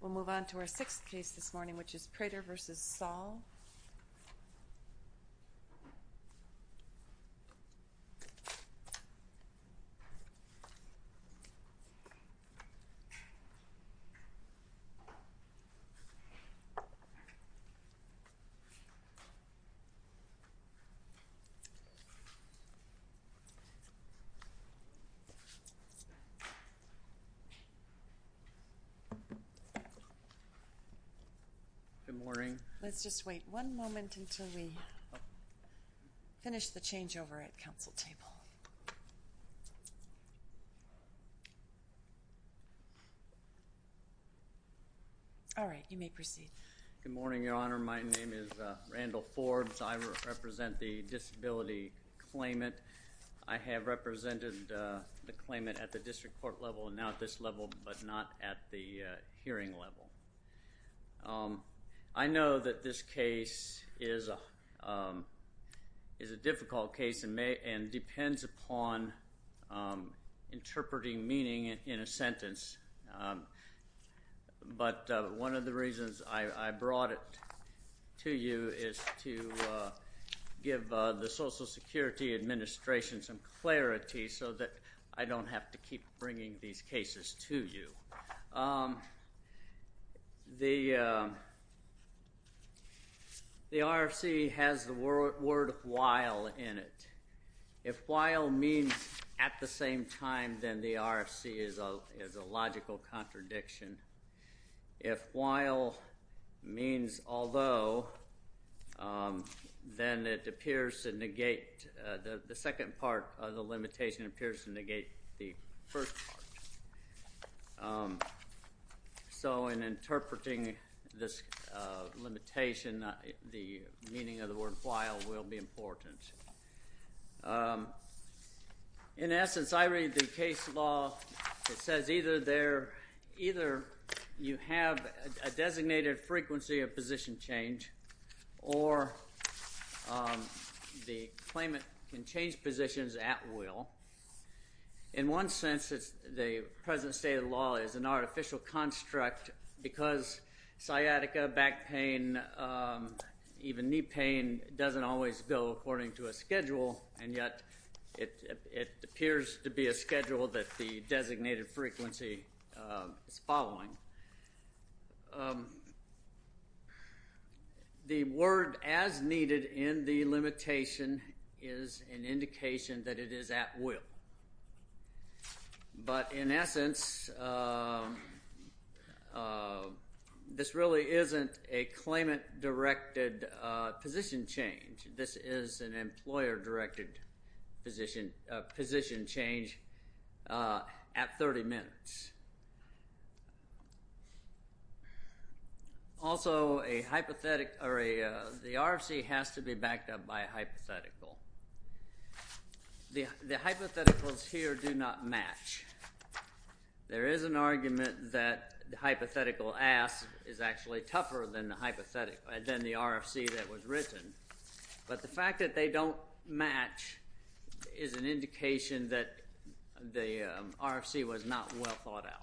We'll move on to our sixth case this morning, which is Prater v. Saul. Good morning. Let's just wait one moment until we finish the changeover at the council table. All right. You may proceed. Good morning, Your Honor. My name is Randall Forbes. I represent the Disability Claimant. I have represented the claimant at the district court level and now at this level, but not Thank you. Thank you. Thank you. Thank you. Thank you. Thank you. Thank you. Thank you. Thank you. Thank you. Thank you. Thank you. Thank you. Thank you. Thank you. This case is a difficult case and depends upon interpreting meaning in a sentence, but one of the reasons I brought it to you is to give the Social Security Administration some clarity so that I don't have to keep bringing these cases to you. The RFC has the word while in it. If while means at the same time, then the RFC is a logical contradiction. If while means although, then it appears to negate, the second part of the limitation appears to negate the first part. So in interpreting this limitation, the meaning of the word while will be important. In essence, I read the case law that says either you have a designated frequency of position change or the claimant can change positions at will. In one sense, the present state of the law is an artificial construct because sciatica, back pain, even knee pain doesn't always go according to a schedule and yet it appears to be a schedule that the designated frequency is following. The word as needed in the limitation is an indication that it is at will. But in essence, this really isn't a claimant directed position change, this is an employer directed position change at 30 minutes. Also a hypothetical, the RFC has to be backed up by a hypothetical. The hypotheticals here do not match. There is an argument that the hypothetical as is actually tougher than the RFC that was written, but the fact that they don't match is an indication that the RFC was not well thought out.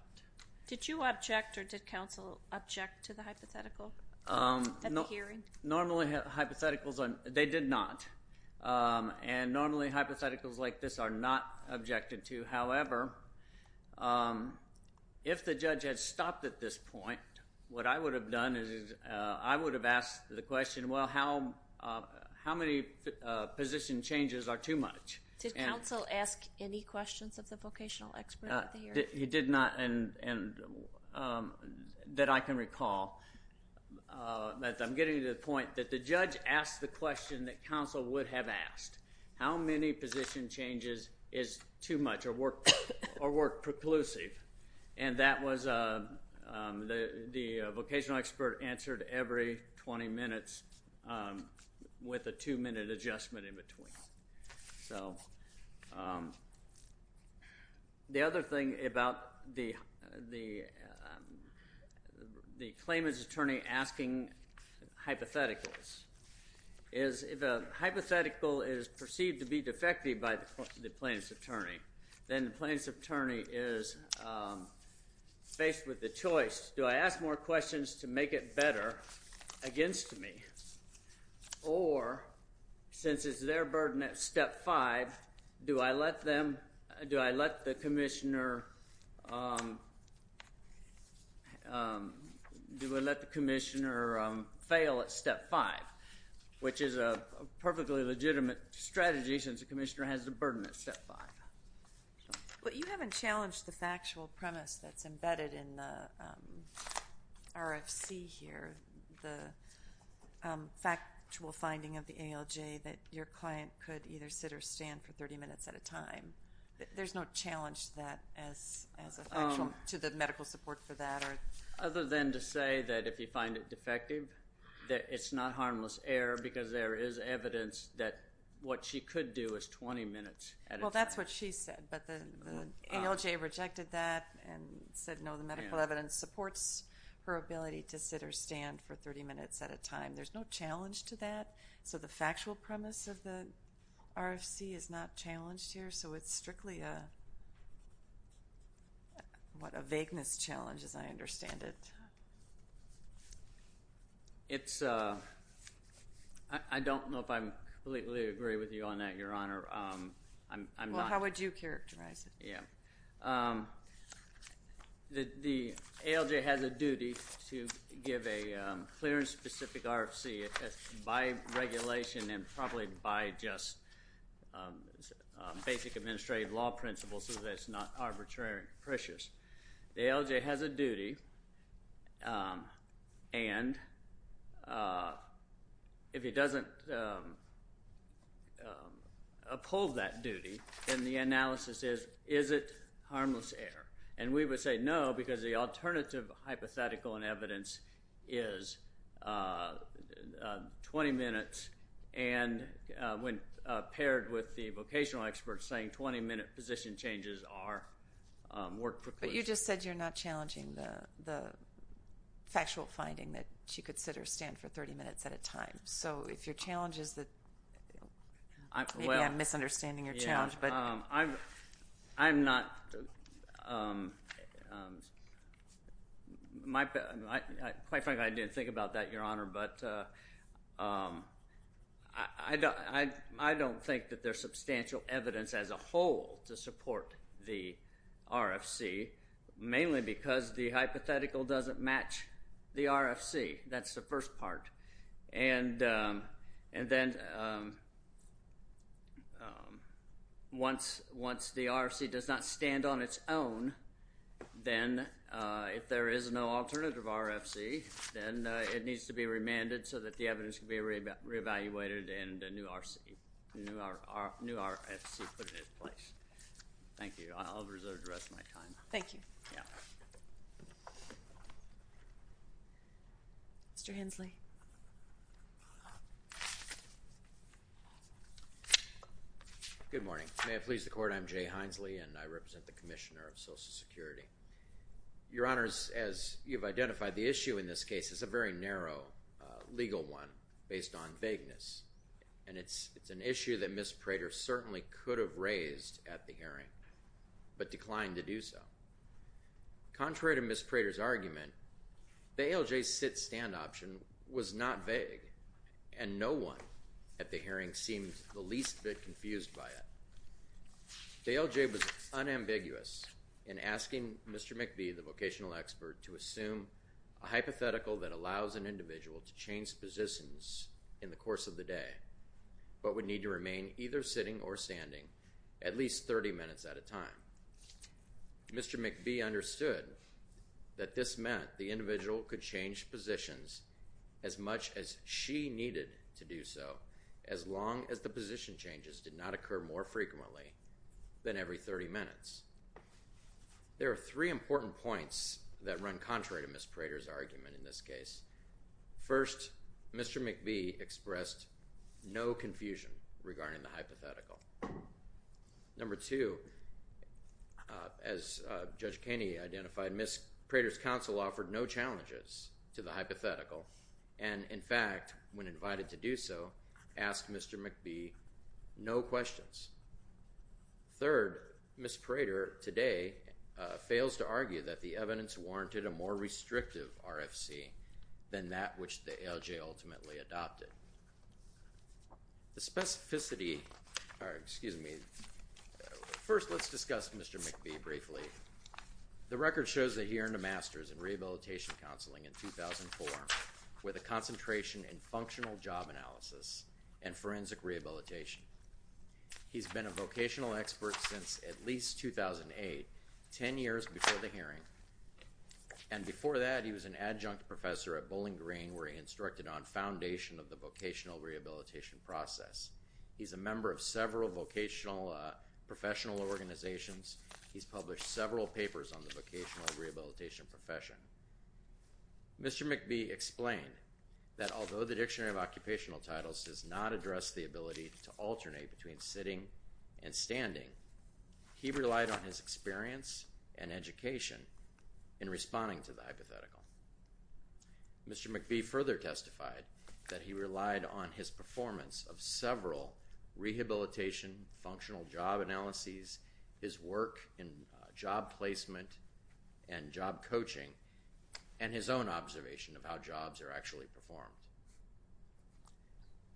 Did you object or did counsel object to the hypothetical at the hearing? Normally hypotheticals, they did not, and normally hypotheticals like this are not objected to. However, if the judge had stopped at this point, what I would have done is I would have asked the question, well how many position changes are too much? Did counsel ask any questions of the vocational expert at the hearing? He did not, and that I can recall, but I'm getting to the point that the judge asked the question that counsel would have asked. How many position changes is too much or were preclusive? And that was the vocational expert answered every 20 minutes with a two minute adjustment in between. So, the other thing about the claimant's attorney asking hypotheticals is if a hypothetical is perceived to be defective by the plaintiff's attorney, then the plaintiff's attorney is faced with the choice, do I ask more questions to make it better against me, or since it's their burden at step five, do I let them, do I let the commissioner, do I let the commissioner fail at step five, which is a perfectly legitimate strategy since the commissioner has the burden at step five. Well, you haven't challenged the factual premise that's embedded in the RFC here, the factual finding of the ALJ that your client could either sit or stand for 30 minutes at a time. There's no challenge to that as a factual, to the medical support for that? Other than to say that if you find it defective, that it's not harmless error because there is evidence that what she could do is 20 minutes at a time. Well, that's what she said, but the ALJ rejected that and said no, the medical evidence supports her ability to sit or stand for 30 minutes at a time. There's no challenge to that, so the factual premise of the RFC is not challenged here, so it's strictly a, what, a vagueness challenge as I understand it. It's a, I don't know if I completely agree with you on that, Your Honor. I'm not. Well, how would you characterize it? Yeah. The ALJ has a duty to give a clear and specific RFC by regulation and probably by just basic administrative law principles so that it's not arbitrary and pericious. The ALJ has a duty and if it doesn't uphold that duty, then the analysis is, is it harmless error? And we would say no because the alternative hypothetical and evidence is 20 minutes and when paired with the vocational experts saying 20 minute position changes are work for clues. But you just said you're not challenging the factual finding that she could sit or stand for 30 minutes at a time, so if your challenge is that, maybe I'm misunderstanding your challenge, but. I'm, I'm not, my, quite frankly, I didn't think about that, Your Honor, but I don't think that there's substantial evidence as a whole to support the RFC, mainly because the hypothetical doesn't match the RFC. That's the first part. And, and then once, once the RFC does not stand on its own, then if there is no alternative RFC, then it needs to be remanded so that the evidence can be reevaluated and a new RFC, new RFC put into place. Thank you. I'll reserve the rest of my time. Thank you. Yeah. Mr. Hensley. Good morning. May it please the Court, I'm Jay Hensley and I represent the Commissioner of Social Security. Your Honors, as you've identified, the issue in this case is a very narrow legal one based on vagueness. And it's, it's an issue that Ms. Prater certainly could have raised at the hearing, but declined to do so. Contrary to Ms. Prater's argument, the ALJ's sit-stand option was not vague and no one at the hearing seemed the least bit confused by it. The ALJ was unambiguous in asking Mr. McVie, the vocational expert, to assume a hypothetical that allows an individual to change positions in the course of the day, but would need to remain either sitting or standing at least 30 minutes at a time. Mr. McVie understood that this meant the individual could change positions as much as she needed to do so as long as the position changes did not occur more frequently than every 30 minutes. There are three important points that run contrary to Ms. Prater's argument in this case. First, Mr. McVie expressed no confusion regarding the hypothetical. Number two, as Judge Kaney identified, Ms. Prater's counsel offered no challenges to the hypothetical and, in fact, when invited to do so, asked Mr. McVie no questions. Third, Ms. Prater today fails to argue that the evidence warranted a more restrictive RFC than that which the ALJ ultimately adopted. The specificity, or excuse me, first let's discuss Mr. McVie briefly. The record shows that he earned a Master's in Rehabilitation Counseling in 2004 with a concentration in Functional Job Analysis and Forensic Rehabilitation. He's been a vocational expert since at least 2008, 10 years before the hearing, and before that he was an adjunct professor at Bowling Green where he instructed on foundation of the vocational rehabilitation process. He's a member of several vocational professional organizations. He's published several papers on the vocational rehabilitation profession. Mr. McVie explained that although the Dictionary of Occupational Titles does not address the ability to alternate between sitting and standing, he relied on his experience and education in responding to the hypothetical. Mr. McVie further testified that he relied on his performance of several rehabilitation functional job analyses, his work in job placement and job coaching, and his own observation of how jobs are actually performed.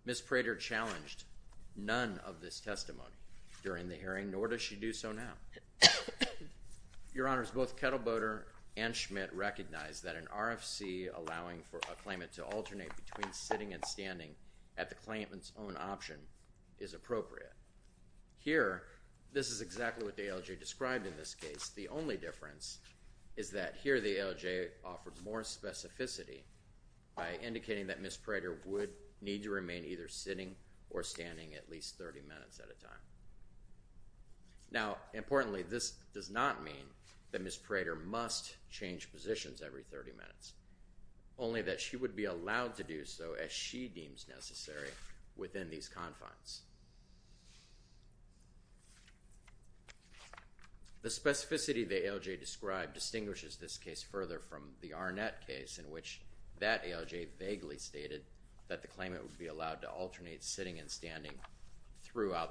Ms. Prater challenged none of this testimony during the hearing, nor does she do so now. Your Honors, both Kettleboater and Schmidt recognized that an RFC allowing for a claimant to alternate between sitting and standing at the claimant's own option is appropriate. Here this is exactly what the ALJ described in this case. The only difference is that here the ALJ offers more specificity by indicating that Ms. Prater would need to remain either sitting or standing at least 30 minutes at a time. Now, importantly, this does not mean that Ms. Prater must change positions every 30 minutes, only that she would be allowed to do so as she deems necessary within these confines. The specificity the ALJ described distinguishes this case further from the Arnett case in which that ALJ vaguely stated that the claimant would be allowed to alternate sitting and standing. The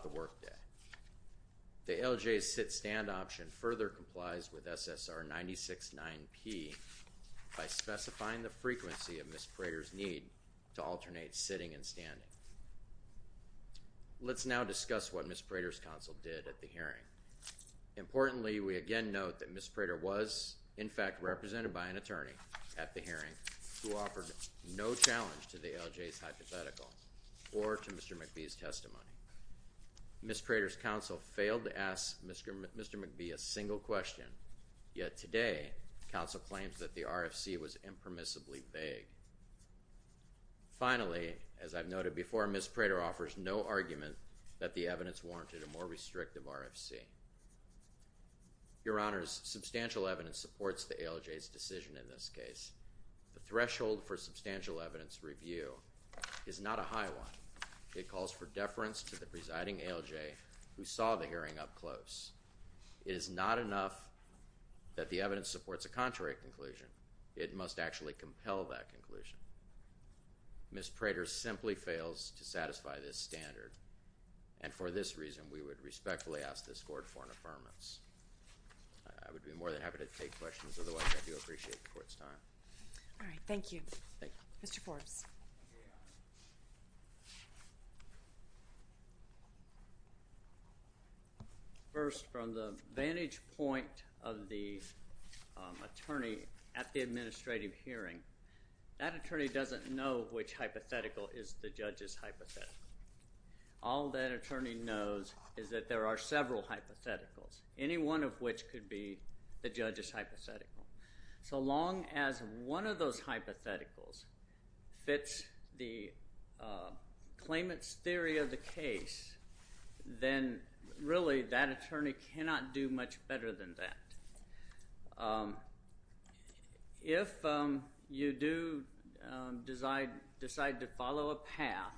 ALJ's sit-stand option further complies with SSR 96-9P by specifying the frequency of Ms. Prater's need to alternate sitting and standing. Let's now discuss what Ms. Prater's counsel did at the hearing. Importantly, we again note that Ms. Prater was, in fact, represented by an attorney at the hearing who offered no challenge to the ALJ's hypothetical or to Mr. McBee's testimony. Ms. Prater's counsel failed to ask Mr. McBee a single question, yet today, counsel claims that the RFC was impermissibly vague. Finally, as I've noted before, Ms. Prater offers no argument that the evidence warranted a more restrictive RFC. Your Honors, substantial evidence supports the ALJ's decision in this case. The threshold for substantial evidence review is not a high one. It calls for deference to the presiding ALJ who saw the hearing up close. It is not enough that the evidence supports a contrary conclusion. It must actually compel that conclusion. Ms. Prater simply fails to satisfy this standard, and for this reason, we would respectfully ask this Court for an affirmance. I would be more than happy to take questions, otherwise I do appreciate the Court's time. Thank you. Thank you. Mr. Forbes. Thank you, Your Honors. First, from the vantage point of the attorney at the administrative hearing, that attorney doesn't know which hypothetical is the judge's hypothetical. All that attorney knows is that there are several hypotheticals, any one of which could be the judge's hypothetical. So long as one of those hypotheticals fits the claimant's theory of the case, then really that attorney cannot do much better than that. If you do decide to follow a path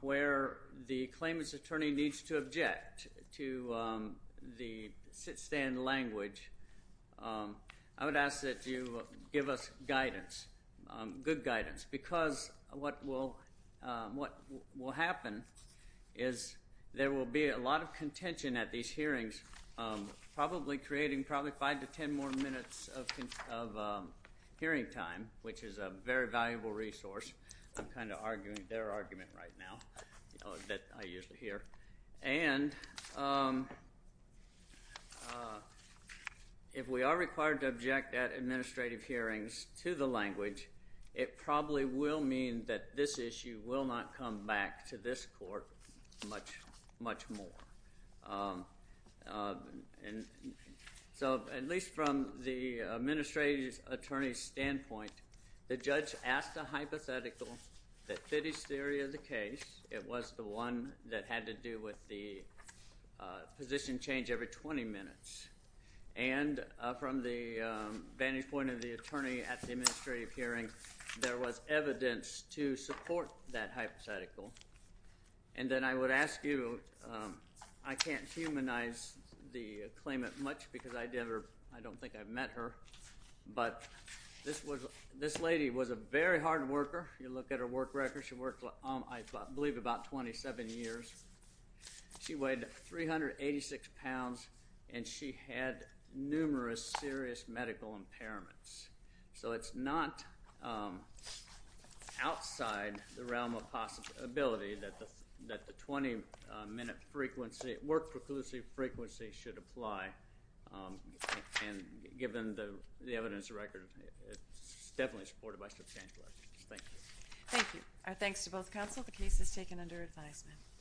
where the claimant's attorney needs to object to the stand of language, I would ask that you give us guidance, good guidance, because what will happen is there will be a lot of contention at these hearings, probably creating probably five to ten more minutes of hearing time, which is a very valuable resource. I'm kind of arguing their argument right now that I usually hear. And, um, if we are required to object at administrative hearings to the language, it probably will mean that this issue will not come back to this Court much, much more. So, at least from the administrative attorney's standpoint, the judge asked a hypothetical that fit his theory of the case. It was the one that had to do with the position change every 20 minutes. And from the vantage point of the attorney at the administrative hearing, there was evidence to support that hypothetical. And then I would ask you, I can't humanize the claimant much because I don't think I've met her, but this lady was a very hard worker. You look at her work records, she worked, I believe, about 27 years. She weighed 386 pounds, and she had numerous serious medical impairments. So it's not outside the realm of possibility that the 20-minute frequency, work preclusive frequency should apply, and given the evidence and record, it's definitely supported by the change of language. Thank you. Thank you. Our thanks to both counsel. The case is taken under advisement.